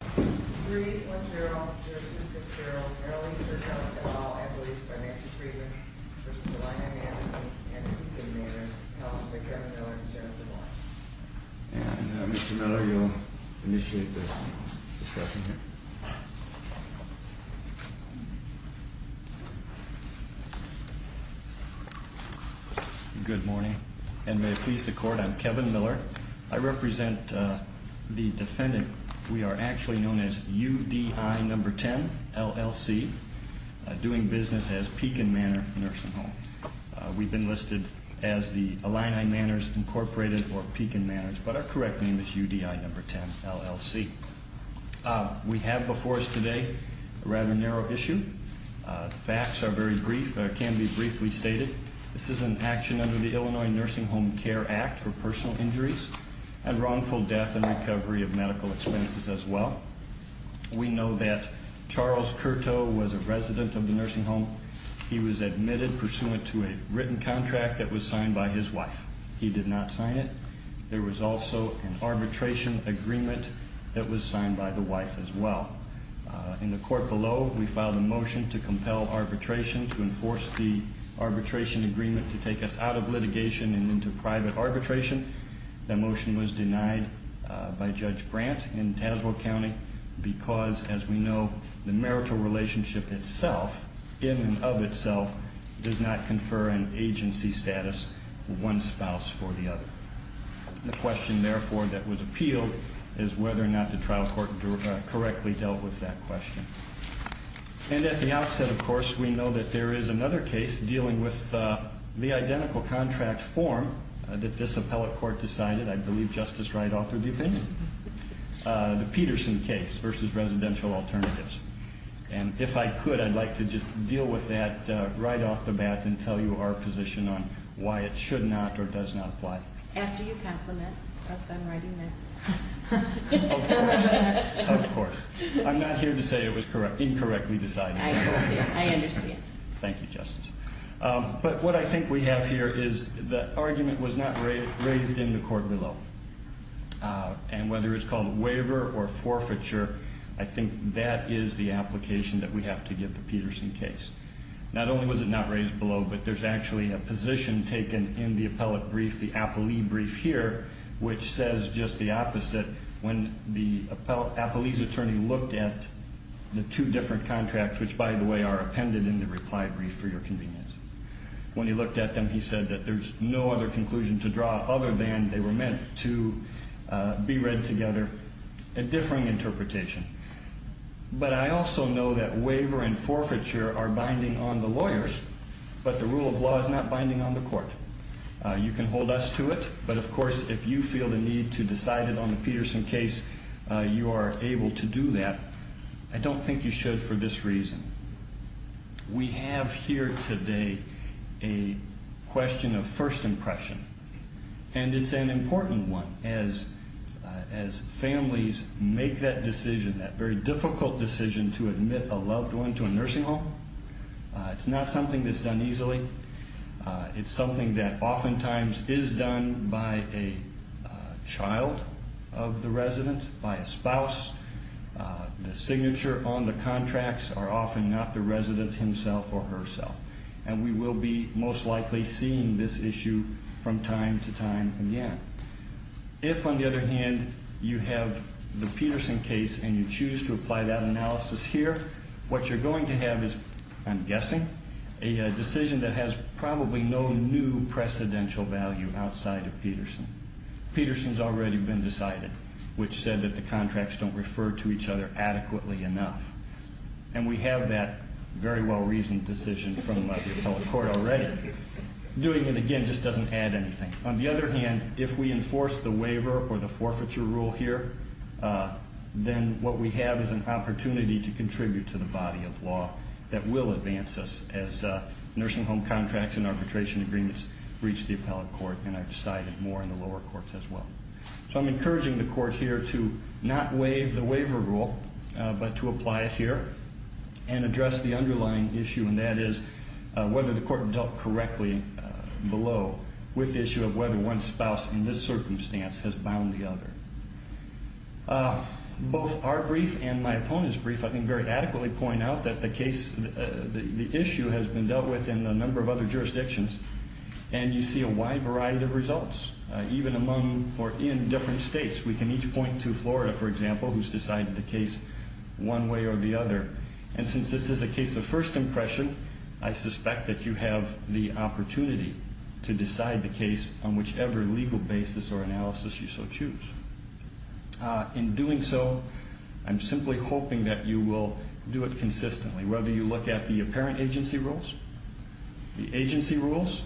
3-1-0, 2-2-6-0, Merrily, Kirkpatrick, et al. Appellees by name and statement, v. Illini Manors, Inc. and Illini Manors. Appellants by Kevin Miller and Jonathan Lawrence. And Mr. Miller, you'll initiate the discussion here. Good morning, and may it please the court, I'm Kevin Miller. I represent the defendant. We are actually known as UDI No. 10, LLC. Doing business as Pekin Manor Nursing Home. We've been listed as the Illini Manors, Inc. or Pekin Manors, but our correct name is UDI No. 10, LLC. We have before us today a rather narrow issue. The facts are very brief, can be briefly stated. This is an action under the Illinois Nursing Home Care Act for personal injuries and wrongful death and recovery of medical expenses as well. We know that Charles Curto was a resident of the nursing home. He was admitted pursuant to a written contract that was signed by his wife. He did not sign it. There was also an arbitration agreement that was signed by the wife as well. In the court below, we filed a motion to compel arbitration to enforce the arbitration agreement to take us out of litigation and into private arbitration. That motion was denied by Judge Grant in Tazewell County because, as we know, the marital relationship itself, in and of itself, does not confer an agency status of one spouse for the other. The question, therefore, that was appealed is whether or not the trial court correctly dealt with that question. And at the outset, of course, we know that there is another case dealing with the identical contract form that this appellate court decided. I believe Justice Wright authored the opinion. The Peterson case versus residential alternatives. And if I could, I'd like to just deal with that right off the bat and tell you our position on why it should not or does not apply. After you compliment us on writing that. Of course. Of course. I'm not here to say it was incorrectly decided. I understand. I understand. Thank you, Justice. But what I think we have here is the argument was not raised in the court below. And whether it's called a waiver or forfeiture, I think that is the application that we have to get the Peterson case. Not only was it not raised below, but there's actually a position taken in the appellate brief, the appellee brief here, which says just the opposite. When the appellee's attorney looked at the two different contracts, which, by the way, are appended in the reply brief for your convenience. When he looked at them, he said that there's no other conclusion to draw other than they were meant to be read together, a differing interpretation. But I also know that waiver and forfeiture are binding on the lawyers. But the rule of law is not binding on the court. You can hold us to it. But of course, if you feel the need to decide it on the Peterson case, you are able to do that. I don't think you should for this reason. We have here today a question of first impression. And it's an important one. As families make that decision, that very difficult decision to admit a loved one to a nursing home, it's not something that's done easily. It's something that oftentimes is done by a child of the resident, by a spouse. The signature on the contracts are often not the resident himself or herself. And we will be most likely seeing this issue from time to time again. If, on the other hand, you have the Peterson case and you choose to apply that analysis here, what you're going to have is, I'm guessing, a decision that has probably no new precedential value outside of Peterson. Peterson's already been decided, which said that the contracts don't refer to each other adequately enough. And we have that very well-reasoned decision from the appellate court already. Doing it again just doesn't add anything. On the other hand, if we enforce the waiver or the forfeiture rule here, then what we have is an opportunity to contribute to the body of law that will advance us as nursing home contracts and arbitration agreements reach the appellate court. And I've decided more in the lower courts as well. So I'm encouraging the court here to not waive the waiver rule, but to apply it here and address the underlying issue. And that is whether the court dealt correctly below with the issue of whether one spouse in this circumstance has bound the other. Both our brief and my opponent's brief I think very adequately point out that the issue has been dealt with in a number of other jurisdictions. And you see a wide variety of results, even among or in different states. We can each point to Florida, for example, who's decided the case one way or the other. And since this is a case of first impression, I suspect that you have the opportunity to decide the case on whichever legal basis or analysis you so choose. In doing so, I'm simply hoping that you will do it consistently, whether you look at the apparent agency rules, the agency rules,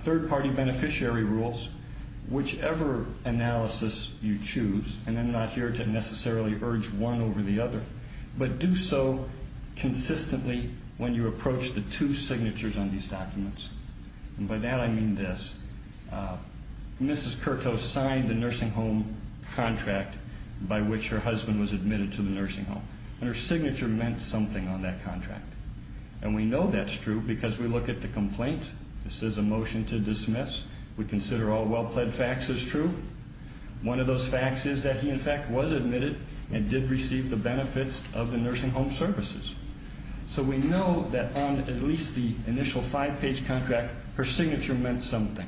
third party beneficiary rules, whichever analysis you choose. And I'm not here to necessarily urge one over the other. But do so consistently when you approach the two signatures on these documents. And by that I mean this. Mrs. Curto signed the nursing home contract by which her husband was admitted to the nursing home. And her signature meant something on that contract. And we know that's true because we look at the complaint. This is a motion to dismiss. We consider all well-pled facts as true. One of those facts is that he, in fact, was admitted and did receive the benefits of the nursing home services. So we know that on at least the initial five-page contract, her signature meant something.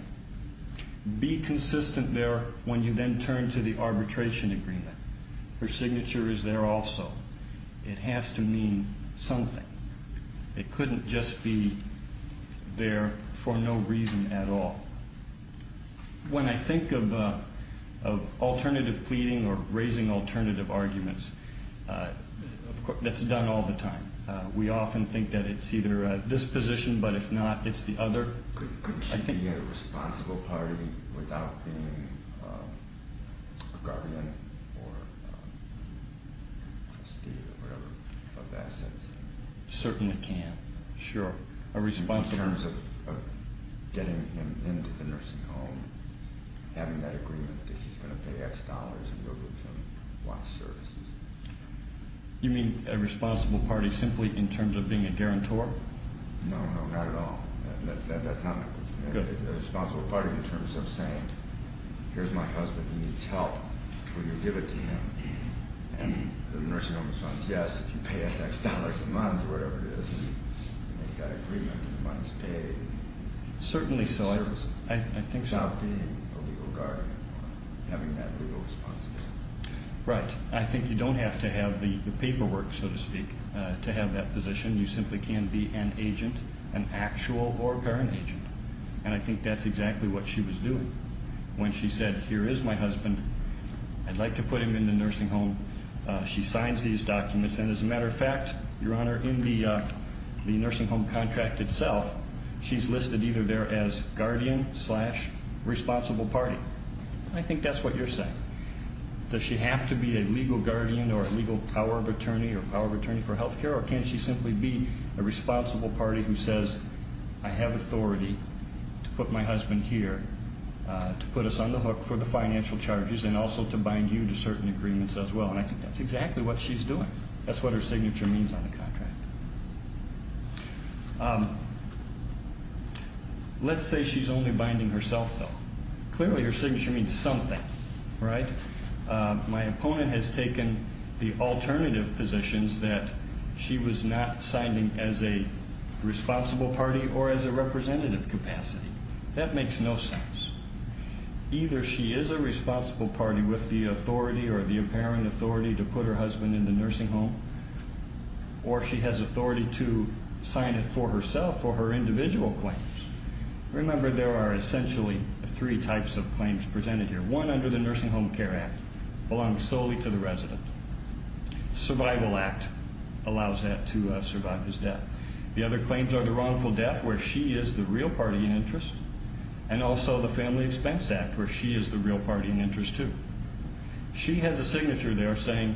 Be consistent there when you then turn to the arbitration agreement. Her signature is there also. It has to mean something. It couldn't just be there for no reason at all. When I think of alternative pleading or raising alternative arguments, that's done all the time. We often think that it's either this position, but if not, it's the other. Couldn't she be a responsible party without being a guardian or a trustee or whatever of assets? Certainly can, sure. In terms of getting him into the nursing home, having that agreement that he's going to pay X dollars and go get some Y services. You mean a responsible party simply in terms of being a guarantor? No, no, not at all. That's not a good thing. A responsible party in terms of saying, here's my husband, he needs help. Will you give it to him? And the nursing home responds, yes, if you pay us X dollars a month or whatever it is, and they've got agreement and the money's paid. Certainly so. Without being a legal guardian or having that legal responsibility. Right. I think you don't have to have the paperwork, so to speak, to have that position. You simply can be an agent, an actual or a parent agent. And I think that's exactly what she was doing. When she said, here is my husband, I'd like to put him in the nursing home, she signs these documents. And as a matter of fact, Your Honor, in the nursing home contract itself, she's listed either there as guardian slash responsible party. I think that's what you're saying. Does she have to be a legal guardian or a legal power of attorney or power of attorney for health care? Or can she simply be a responsible party who says, I have authority to put my husband here, to put us on the hook for the financial charges, and also to bind you to certain agreements as well. And I think that's exactly what she's doing. That's what her signature means on the contract. Let's say she's only binding herself, though. Clearly, her signature means something, right? My opponent has taken the alternative positions that she was not signing as a responsible party or as a representative capacity. That makes no sense. Either she is a responsible party with the authority or the apparent authority to put her husband in the nursing home, or she has authority to sign it for herself or her individual claims. Remember, there are essentially three types of claims presented here. One under the Nursing Home Care Act, belongs solely to the resident. Survival Act allows that to survive his death. The other claims are the wrongful death, where she is the real party in interest, and also the Family Expense Act, where she is the real party in interest, too. She has a signature there saying,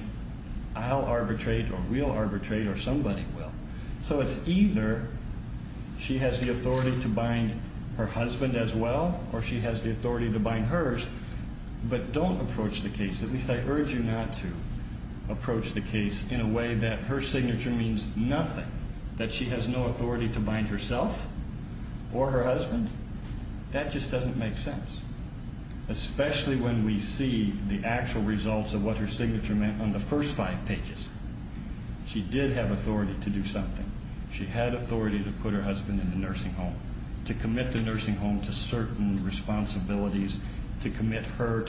I'll arbitrate or we'll arbitrate or somebody will. So it's either she has the authority to bind her husband as well, or she has the authority to bind hers, but don't approach the case. At least I urge you not to approach the case in a way that her signature means nothing, that she has no authority to bind herself or her husband. That just doesn't make sense, especially when we see the actual results of what her signature meant on the first five pages. She did have authority to do something. She had authority to put her husband in the nursing home, to commit the nursing home to certain responsibilities, to commit her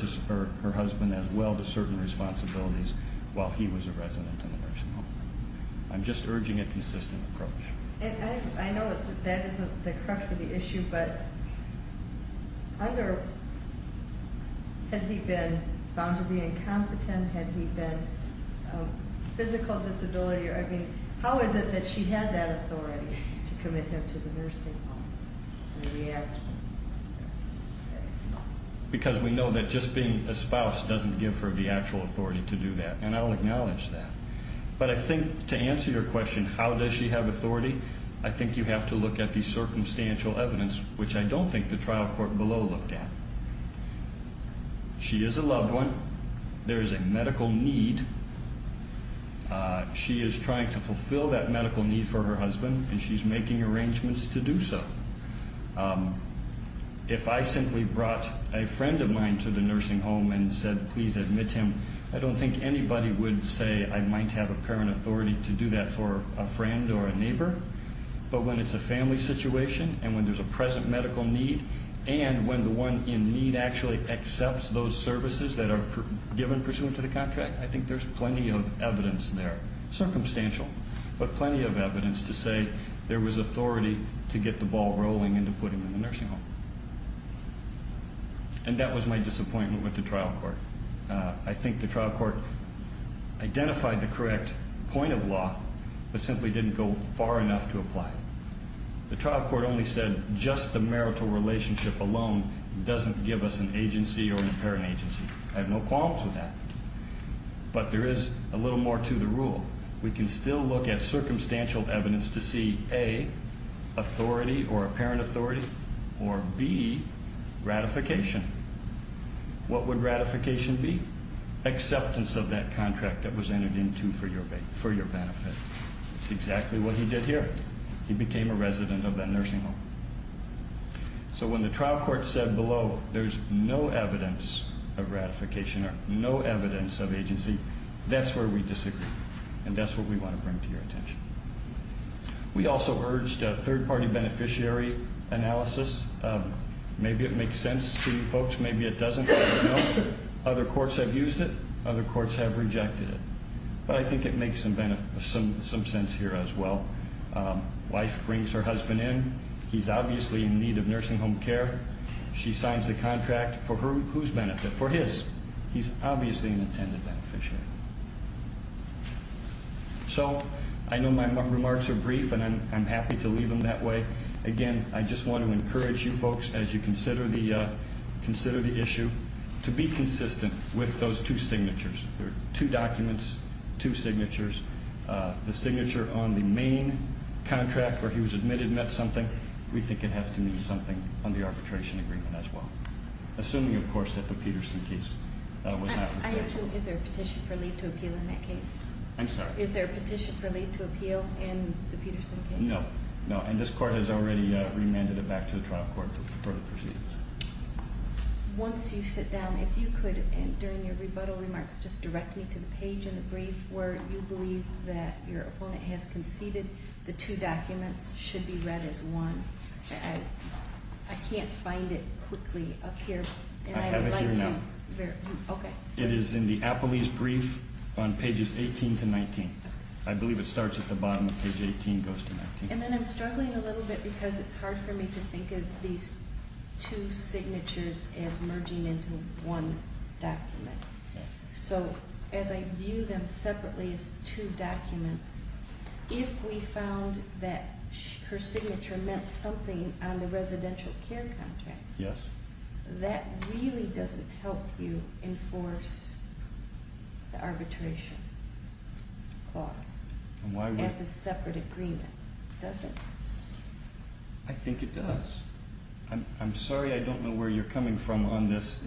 husband as well to certain responsibilities while he was a resident in the nursing home. I'm just urging a consistent approach. And I know that that isn't the crux of the issue, but had he been found to be incompetent? Had he been a physical disability? I mean, how is it that she had that authority to commit him to the nursing home? The reaction? Because we know that just being a spouse doesn't give her the actual authority to do that, and I'll acknowledge that. But I think to answer your question, how does she have authority, I think you have to look at the circumstantial evidence, which I don't think the trial court below looked at. She is a loved one. There is a medical need. She is trying to fulfill that medical need for her husband, and she's making arrangements to do so. If I simply brought a friend of mine to the nursing home and said, please admit him, I don't think anybody would say I might have apparent authority to do that for a friend or a neighbor. But when it's a family situation and when there's a present medical need, and when the one in need actually accepts those services that are given pursuant to the contract, I think there's plenty of evidence there. Circumstantial. But plenty of evidence to say there was authority to get the ball rolling into putting him in the nursing home. And that was my disappointment with the trial court. I think the trial court identified the correct point of law, but simply didn't go far enough to apply. The trial court only said just the marital relationship alone doesn't give us an agency or an apparent agency. But there is a little more to the rule. We can still look at circumstantial evidence to see, A, authority or apparent authority, or B, ratification. What would ratification be? Acceptance of that contract that was entered into for your benefit. That's exactly what he did here. He became a resident of that nursing home. So when the trial court said below there's no evidence of ratification or no evidence of agency, that's where we disagree. And that's what we want to bring to your attention. We also urged a third-party beneficiary analysis. Maybe it makes sense to you folks. Maybe it doesn't. Other courts have used it. Other courts have rejected it. But I think it makes some sense here as well. Wife brings her husband in. He's obviously in need of nursing home care. She signs the contract for whose benefit? For his. He's obviously an intended beneficiary. So I know my remarks are brief, and I'm happy to leave them that way. Again, I just want to encourage you folks as you consider the issue to be consistent with those two signatures. Two documents, two signatures. The signature on the main contract where he was admitted meant something. We think it has to mean something on the arbitration agreement as well. Assuming, of course, that the Peterson case was not the case. Is there a petition for leave to appeal in that case? I'm sorry? Is there a petition for leave to appeal in the Peterson case? No. No, and this court has already remanded it back to the trial court for the proceedings. Once you sit down, if you could, during your rebuttal remarks, just direct me to the page in the brief where you believe that your opponent has conceded the two documents should be read as one. I can't find it quickly up here. I have it here now. Okay. It is in the Appellee's brief on pages 18 to 19. I believe it starts at the bottom of page 18, goes to 19. And then I'm struggling a little bit because it's hard for me to think of these two signatures as merging into one document. So, as I view them separately as two documents, if we found that her signature meant something on the residential care contract, that really doesn't help you enforce the arbitration clause as a separate agreement, does it? I think it does. I'm sorry I don't know where you're coming from on this.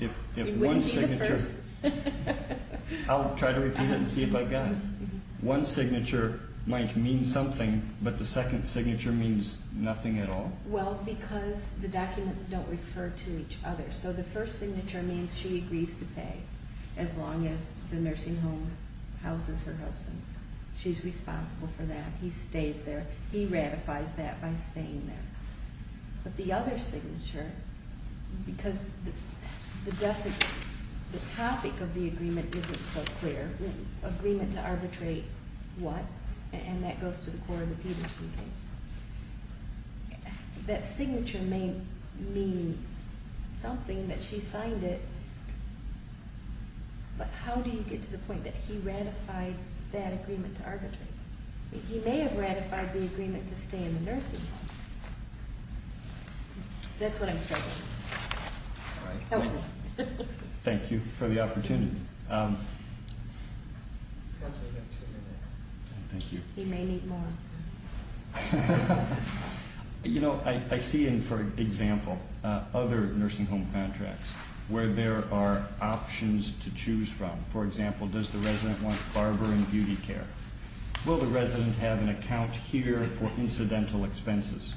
If one signature... I'll try to repeat it and see if I got it. One signature might mean something, but the second signature means nothing at all? Well, because the documents don't refer to each other. So the first signature means she agrees to pay as long as the nursing home houses her husband. She's responsible for that. He stays there. He ratifies that by staying there. But the other signature, because the topic of the agreement isn't so clear, agreement to arbitrate what? And that goes to the core of the Peterson case. That signature may mean something that she signed it, but how do you get to the point that he ratified that agreement to arbitrate? He may have ratified the agreement to stay in the nursing home. That's what I'm struggling with. All right. Thank you for the opportunity. Counselor, you have two minutes. Thank you. He may need more. You know, I see in, for example, other nursing home contracts where there are options to choose from. For example, does the resident want barber and beauty care? Will the resident have an account here for incidental expenses?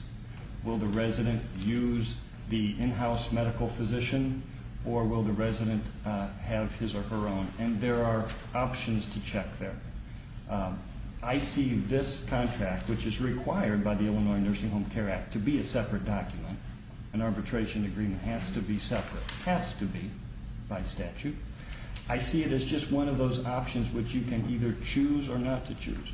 Will the resident use the in-house medical physician or will the resident have his or her own? And there are options to check there. I see this contract, which is required by the Illinois Nursing Home Care Act to be a separate document. An arbitration agreement has to be separate. Has to be by statute. I see it as just one of those options which you can either choose or not to choose.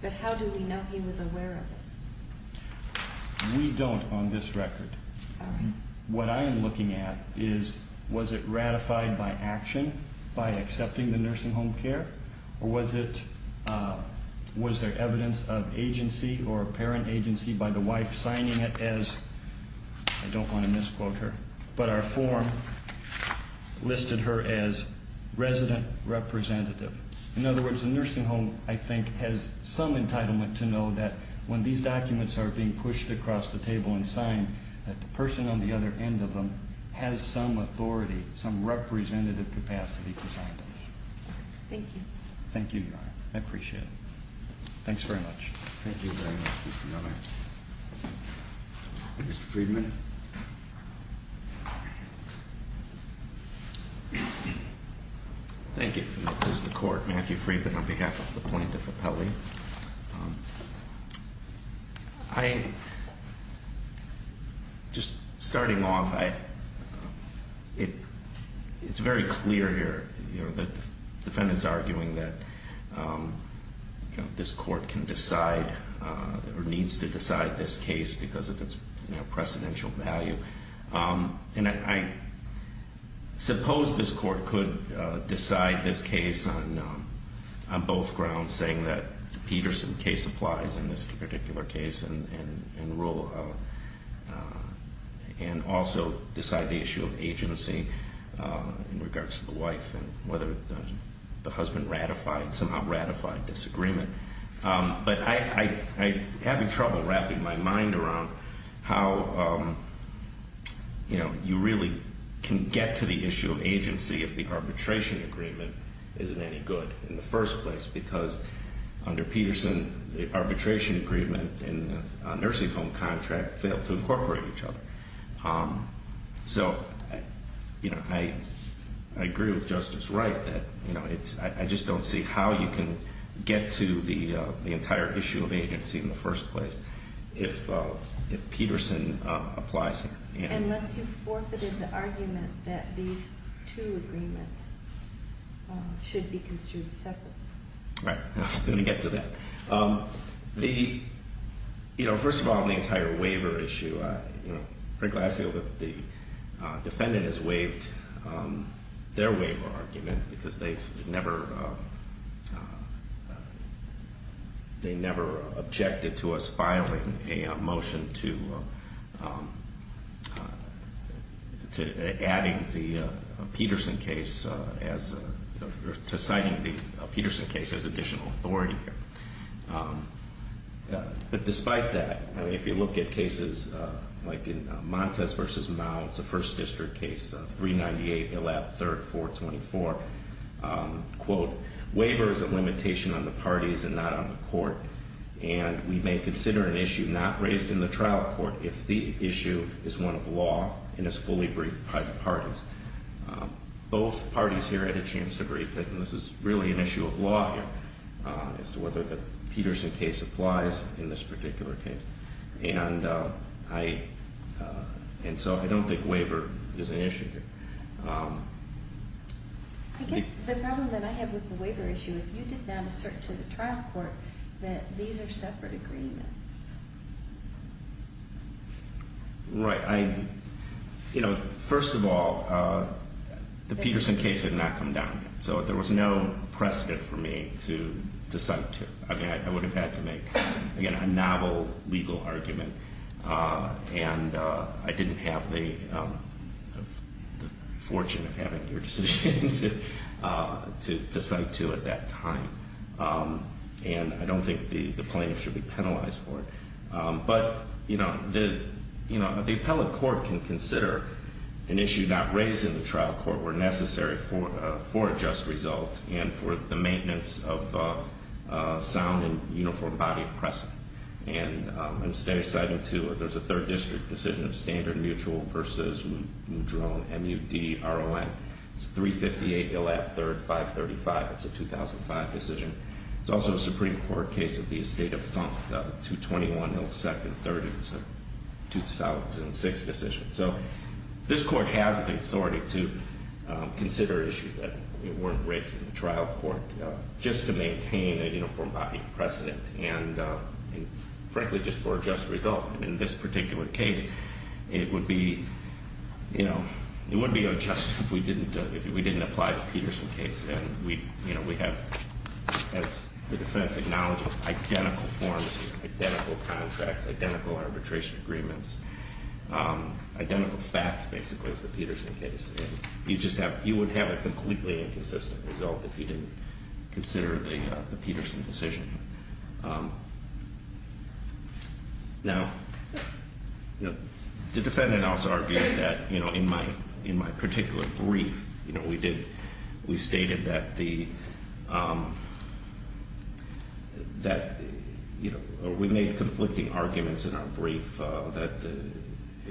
But how do we know he was aware of it? We don't on this record. What I am looking at is was it ratified by action, by accepting the nursing home care? Or was it, was there evidence of agency or parent agency by the wife signing it as, I don't want to misquote her, but our form listed her as resident representative. In other words, the nursing home, I think, has some entitlement to know that when these documents are being pushed across the table and signed, that the person on the other end of them has some authority, some representative capacity to sign them. Thank you. Thank you, Your Honor. I appreciate it. Thanks very much. Thank you very much, Mr. Miller. Mr. Friedman. Thank you. This is the court. Matthew Friedman on behalf of the plaintiff appellee. I, just starting off, it's very clear here that the defendant's arguing that this court can decide or needs to decide this case because of its precedential value. And I suppose this court could decide this case on both grounds, saying that the Peterson case applies in this particular case and rule, and also decide the issue of agency in regards to the wife and whether the husband ratified, somehow ratified this agreement. But I'm having trouble wrapping my mind around how you really can get to the issue of agency if the arbitration agreement isn't any good in the first place, because under Peterson, the arbitration agreement and the nursing home contract failed to incorporate each other. So, you know, I agree with Justice Wright that, you know, I just don't see how you can get to the entire issue of agency in the first place if Peterson applies here. Unless you forfeited the argument that these two agreements should be construed separately. Right. I was going to get to that. The, you know, first of all, the entire waiver issue, you know, frankly, I feel that the defendant has waived their waiver argument because they've never, they never objected to us filing a motion to adding the Peterson case as, to citing the Peterson case as additional authority here. But despite that, I mean, if you look at cases like in Montes v. Mao, it's a First District case, 398, Illab, 3rd, 424. Quote, waiver is a limitation on the parties and not on the court. And we may consider an issue not raised in the trial court if the issue is one of law and is fully briefed by the parties. Both parties here had a chance to brief it, and this is really an issue of law here as to whether the Peterson case applies in this particular case. And I, and so I don't think waiver is an issue here. I guess the problem that I have with the waiver issue is you did not assert to the trial court that these are separate agreements. Right. I, you know, first of all, the Peterson case had not come down yet. So there was no precedent for me to cite to. I mean, I would have had to make, again, a novel legal argument. And I didn't have the fortune of having your decision to cite to at that time. And I don't think the plaintiff should be penalized for it. But, you know, the appellate court can consider an issue not raised in the trial court where necessary for a just result and for the maintenance of sound and uniform body of precedent. And I'm going to stay citing to it. There's a third district decision of standard mutual versus Mudrone, M-U-D-R-O-N. It's 358 Gillette 3rd, 535. It's a 2005 decision. It's also a Supreme Court case of the estate of Thump, 221, 07, 30. It's a 2006 decision. So this court has the authority to consider issues that weren't raised in the trial court just to maintain a uniform body of precedent and, frankly, just for a just result. And in this particular case, it would be, you know, it would be unjust if we didn't apply the Peterson case. And we have, as the defense acknowledges, identical forms, identical contracts, identical arbitration agreements, identical facts, basically, as the Peterson case. You just have, you would have a completely inconsistent result if you didn't consider the Peterson decision. Now, the defendant also argues that, you know, in my particular brief, you know, we stated that the, that, you know, we made conflicting arguments in our brief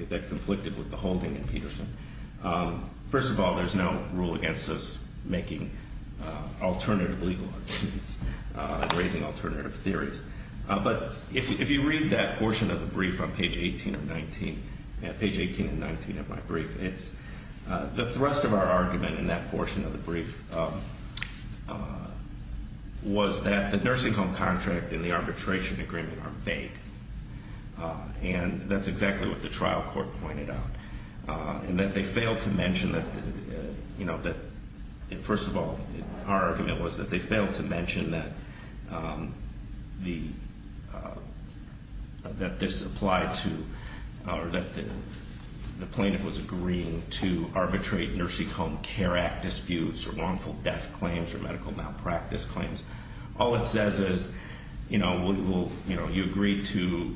that conflicted with the holding in Peterson. First of all, there's no rule against us making alternative legal arguments and raising alternative theories. But if you read that portion of the brief on page 18 and 19, page 18 and 19 of my brief, it's, the thrust of our argument in that portion of the brief was that the nursing home contract and the arbitration agreement are vague. And that's exactly what the trial court pointed out. And that they failed to mention that, you know, that, first of all, our argument was that they failed to mention that the, that this applied to, or that the plaintiff was agreeing to arbitrate nursing home care act disputes or wrongful death claims or medical malpractice claims. All it says is, you know, we will, you know, you agree to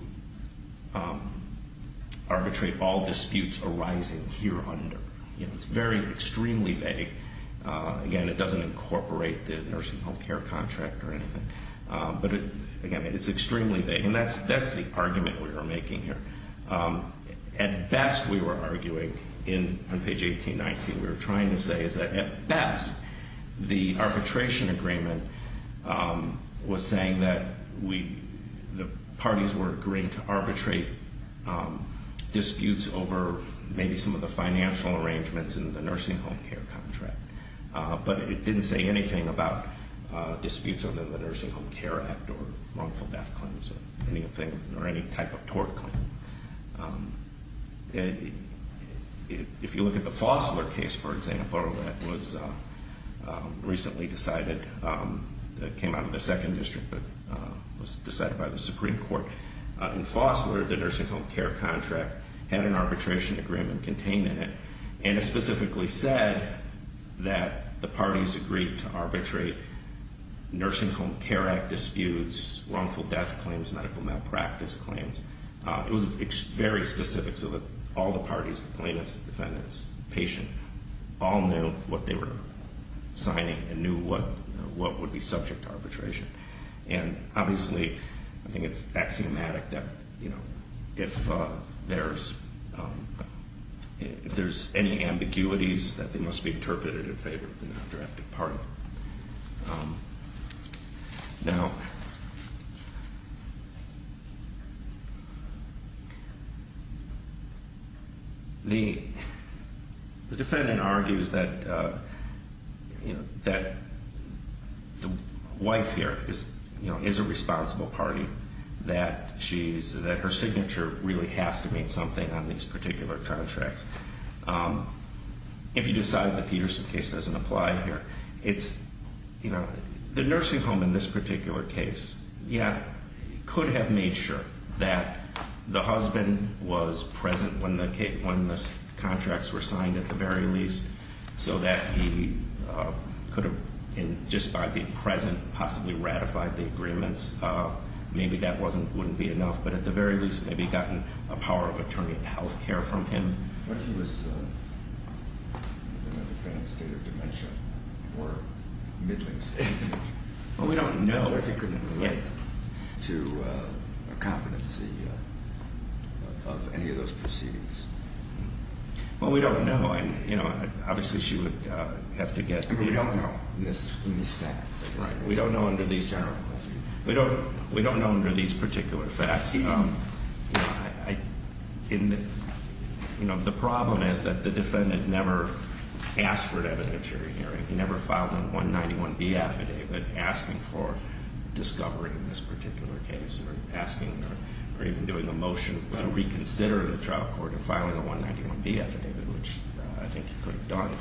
arbitrate all disputes arising here under. You know, it's very, extremely vague. Again, it doesn't incorporate the nursing home care contract or anything. But again, it's extremely vague. And that's, that's the argument we were making here. At best, we were arguing in, on page 18, 19, we were trying to say is that at best, the arbitration agreement was saying that we, the parties were agreeing to arbitrate disputes over maybe some of the financial arrangements in the nursing home care contract. But it didn't say anything about disputes under the nursing home care act or wrongful death claims or anything or any type of tort claim. If you look at the Fossler case, for example, that was recently decided, that came out of the second district, but was decided by the Supreme Court. In Fossler, the nursing home care contract had an arbitration agreement contained in it. And it specifically said that the parties agreed to arbitrate nursing home care act disputes, wrongful death claims, medical malpractice claims. It was very specific so that all the parties, plaintiffs, defendants, patient, all knew what they were signing and knew what would be subject to arbitration. And obviously, I think it's axiomatic that, you know, if there's any ambiguities that they must be interpreted in favor of the non-drafted party. Now, the defendant argues that, you know, that the wife here is, you know, is a responsible party, that she's, that her signature really has to mean something on these particular contracts. If you decide the Peterson case doesn't apply here, it's, you know, the nursing home in this particular case, yeah, could have made sure that the husband was present when the contracts were signed at the very least so that he could have, just by being present, possibly ratified the agreements. Maybe that wouldn't be enough. But at the very least, maybe gotten a power of attorney or get health care from him. What if he was in a advanced state of dementia or middling state? Well, we don't know. What if he couldn't relate to a competency of any of those proceedings? Well, we don't know. And, you know, obviously, she would have to get... We don't know in these facts. Right. We don't know under these... General question. We don't know under these particular facts. You know, the problem is that the defendant never asked for an evidentiary hearing. He never filed a 191B affidavit asking for discovery in this particular case or asking or even doing a motion to reconsider the trial court and filing a 191B affidavit, which I think he could have done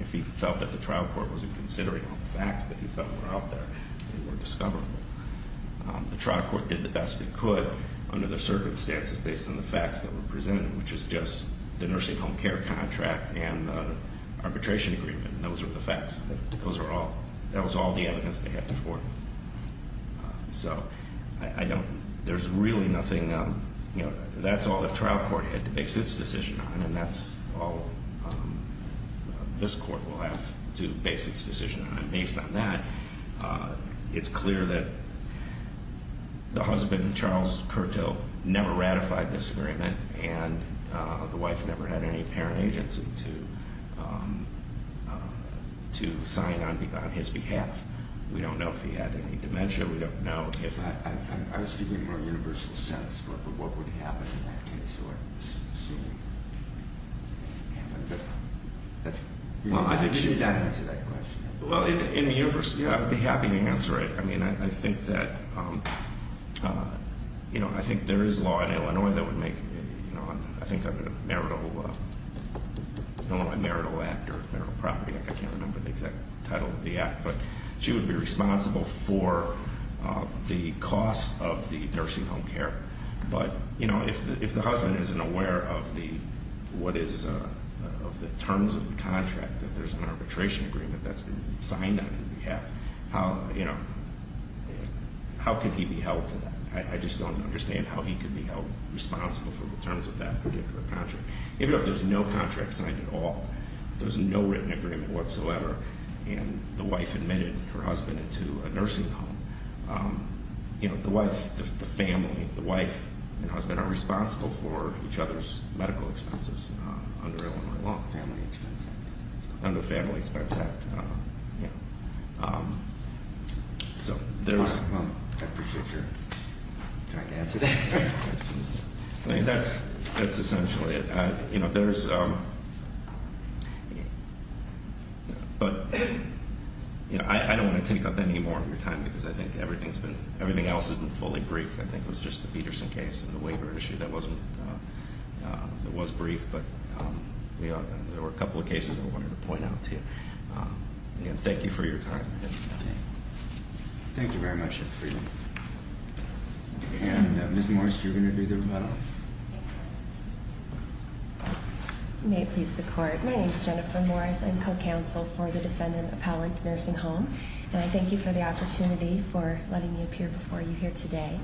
if he felt that the trial court wasn't considering all the facts that he felt were out there and were discoverable. The trial court did the best it could under the circumstances based on the facts that were presented, which is just the nursing home care contract and the arbitration agreement. And those are the facts. Those are all... That was all the evidence they had to forward. So I don't... There's really nothing... You know, that's all the trial court had to base its decision on, and that's all this court will have to base its decision on. Based on that, it's clear that the husband, Charles Curto, never ratified this agreement, and the wife never had any parent agency to sign on his behalf. We don't know if he had any dementia. We don't know if... I was giving a more universal sense, but what would happen in that case or soon? You didn't answer that question. Well, in a universal... Yeah, I'd be happy to answer it. I mean, I think that... You know, I think there is law in Illinois that would make... You know, I think of a marital... Illinois marital act or marital property. I can't remember the exact title of the act, but she would be responsible for the cost of the nursing home care. But, you know, if the husband isn't aware of what is... of the terms of the contract, that there's an arbitration agreement, that's been signed on his behalf, how, you know, how could he be held to that? I just don't understand how he could be held responsible for the terms of that particular contract. Even if there's no contract signed at all, if there's no written agreement whatsoever and the wife admitted her husband into a nursing home, you know, the wife, the family, the wife and husband are responsible for each other's medical expenses under Illinois law. Family expense act. Under family expense act, yeah. So there's... All right, well, I appreciate your trying to answer that. I mean, that's essentially it. You know, there's... But, you know, I don't want to take up any more of your time because I think everything else has been fully brief. I think it was just the Peterson case and the waiver issue that wasn't... that was brief, but, you know, there were a couple of cases I wanted to point out to you. Again, thank you for your time. Thank you very much, Mr. Friedland. And Ms. Morris, you're going to do the rebuttal. May it please the court. My name is Jennifer Morris. I'm co-counsel for the defendant appellate nursing home. And I thank you for the opportunity for letting me appear before you here today.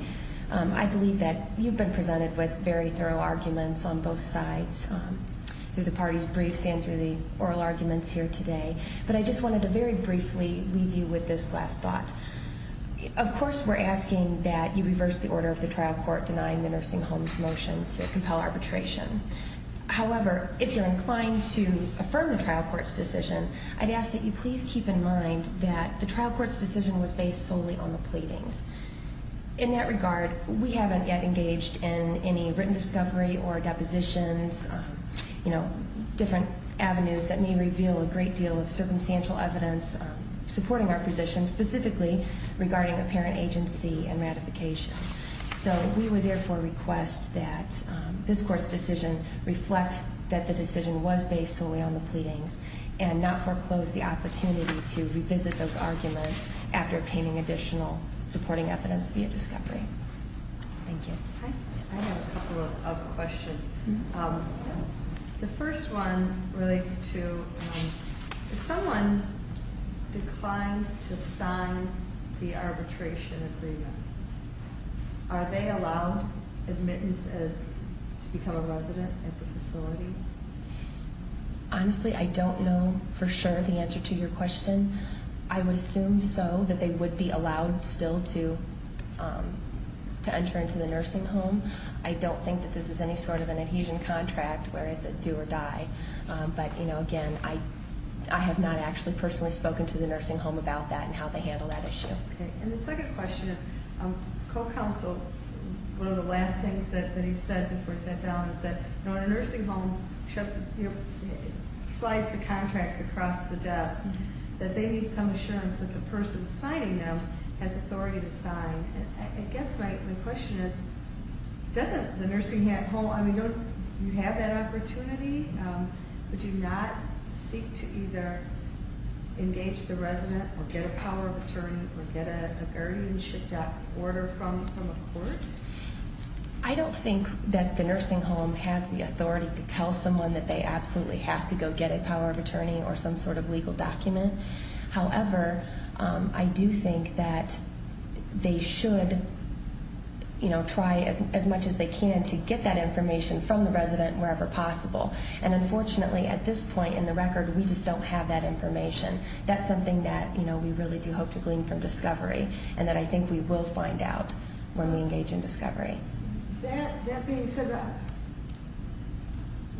I believe that you've been presented with very thorough arguments on both sides through the parties' briefs and through the oral arguments here today. But I just wanted to very briefly leave you with this last thought. Of course, we're asking that you reverse the order of the trial court denying the nursing home's motion to compel arbitration. However, if you're inclined to affirm the trial court's decision, I'd ask that you please keep in mind that the trial court's decision was based solely on the pleadings. In that regard, we haven't yet engaged in any written discovery or depositions, you know, different avenues that may reveal a great deal of circumstantial evidence supporting our position, specifically regarding apparent agency and ratification. So we would therefore request that this court's decision reflect that the decision was based solely on the pleadings and not foreclose the opportunity to revisit those arguments after obtaining additional supporting evidence via discovery. Thank you. I have a couple of questions. The first one relates to if someone declines to sign the arbitration agreement, are they allowed admittances to become a resident at the facility? Honestly, I don't know for sure the answer to your question. I would assume so, that they would be allowed still to enter into the nursing home. I don't think that this is any sort of an adhesion contract where it's a do or die. But, you know, again, I have not actually personally spoken to the nursing home about that and how they handle that issue. Okay. And the second question is co-counsel, one of the last things that he said before he sat down is that, you know, in a nursing home, slides the contracts across the desk, that they need some assurance that the person signing them has authority to sign. I guess my question is, doesn't the nursing home, I mean, do you have that opportunity? Would you not seek to either engage the resident or get a power of attorney or get a guardianship order from a court? I don't think that the nursing home has the authority to tell someone that they absolutely have to go get a power of attorney or some sort of legal document. However, I do think that they should, you know, try as much as they can to get that information from the resident wherever possible. And unfortunately, at this point in the record, we just don't have that information. That's something that, you know, we really do hope to glean from discovery and that I think we will find out when we engage in discovery. That being said,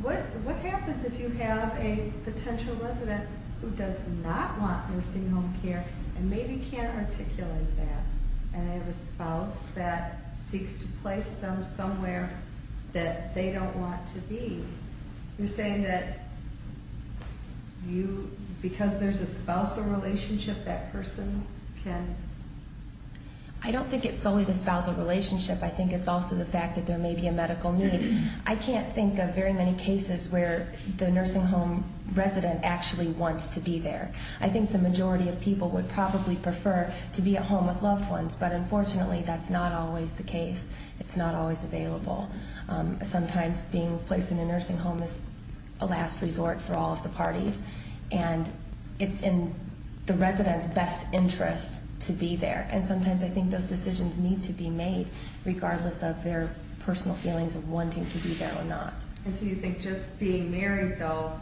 what happens if you have a potential resident who does not want nursing home care and maybe can't articulate that and they have a spouse that seeks to place them somewhere that they don't want to be? You're saying that because there's a spousal relationship, that person can... I don't think it's solely the spousal relationship. I think it's also the fact that there may be a medical need. I can't think of very many cases where the nursing home resident actually wants to be there. I think the majority of people would probably prefer to be at home with loved ones, but unfortunately that's not always the case. It's not always available. Sometimes being placed in a nursing home is a last resort for all of the parties, and it's in the resident's best interest to be there. And sometimes I think those decisions need to be made regardless of their personal feelings of wanting to be there or not. And so you think just being married, though,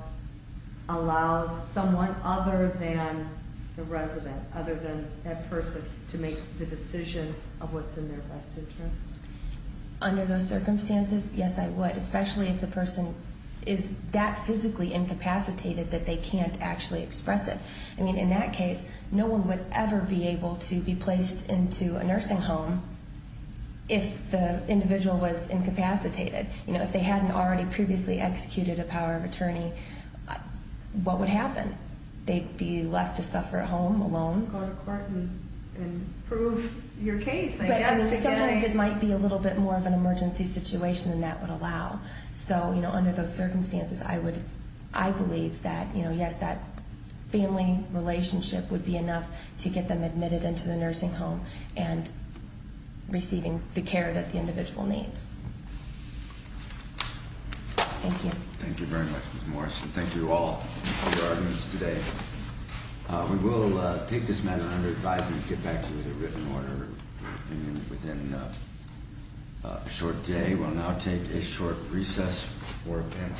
allows someone other than the resident, other than that person, to make the decision of what's in their best interest? Under those circumstances, yes, I would, especially if the person is that physically incapacitated that they can't actually express it. I mean, in that case, no one would ever be able to be placed into a nursing home if the individual was incapacitated. If they hadn't already previously executed a power of attorney, what would happen? They'd be left to suffer at home alone. Go to court and prove your case. Sometimes it might be a little bit more of an emergency situation than that would allow. So under those circumstances, I believe that, yes, that family relationship would be enough to get them admitted into the nursing home and receiving the care that the individual needs. Thank you. Thank you very much, Ms. Morrison. Thank you to all for your arguments today. We will take this matter under advisement and get back to you with a written order. And within a short day, we'll now take a short recess for a panel.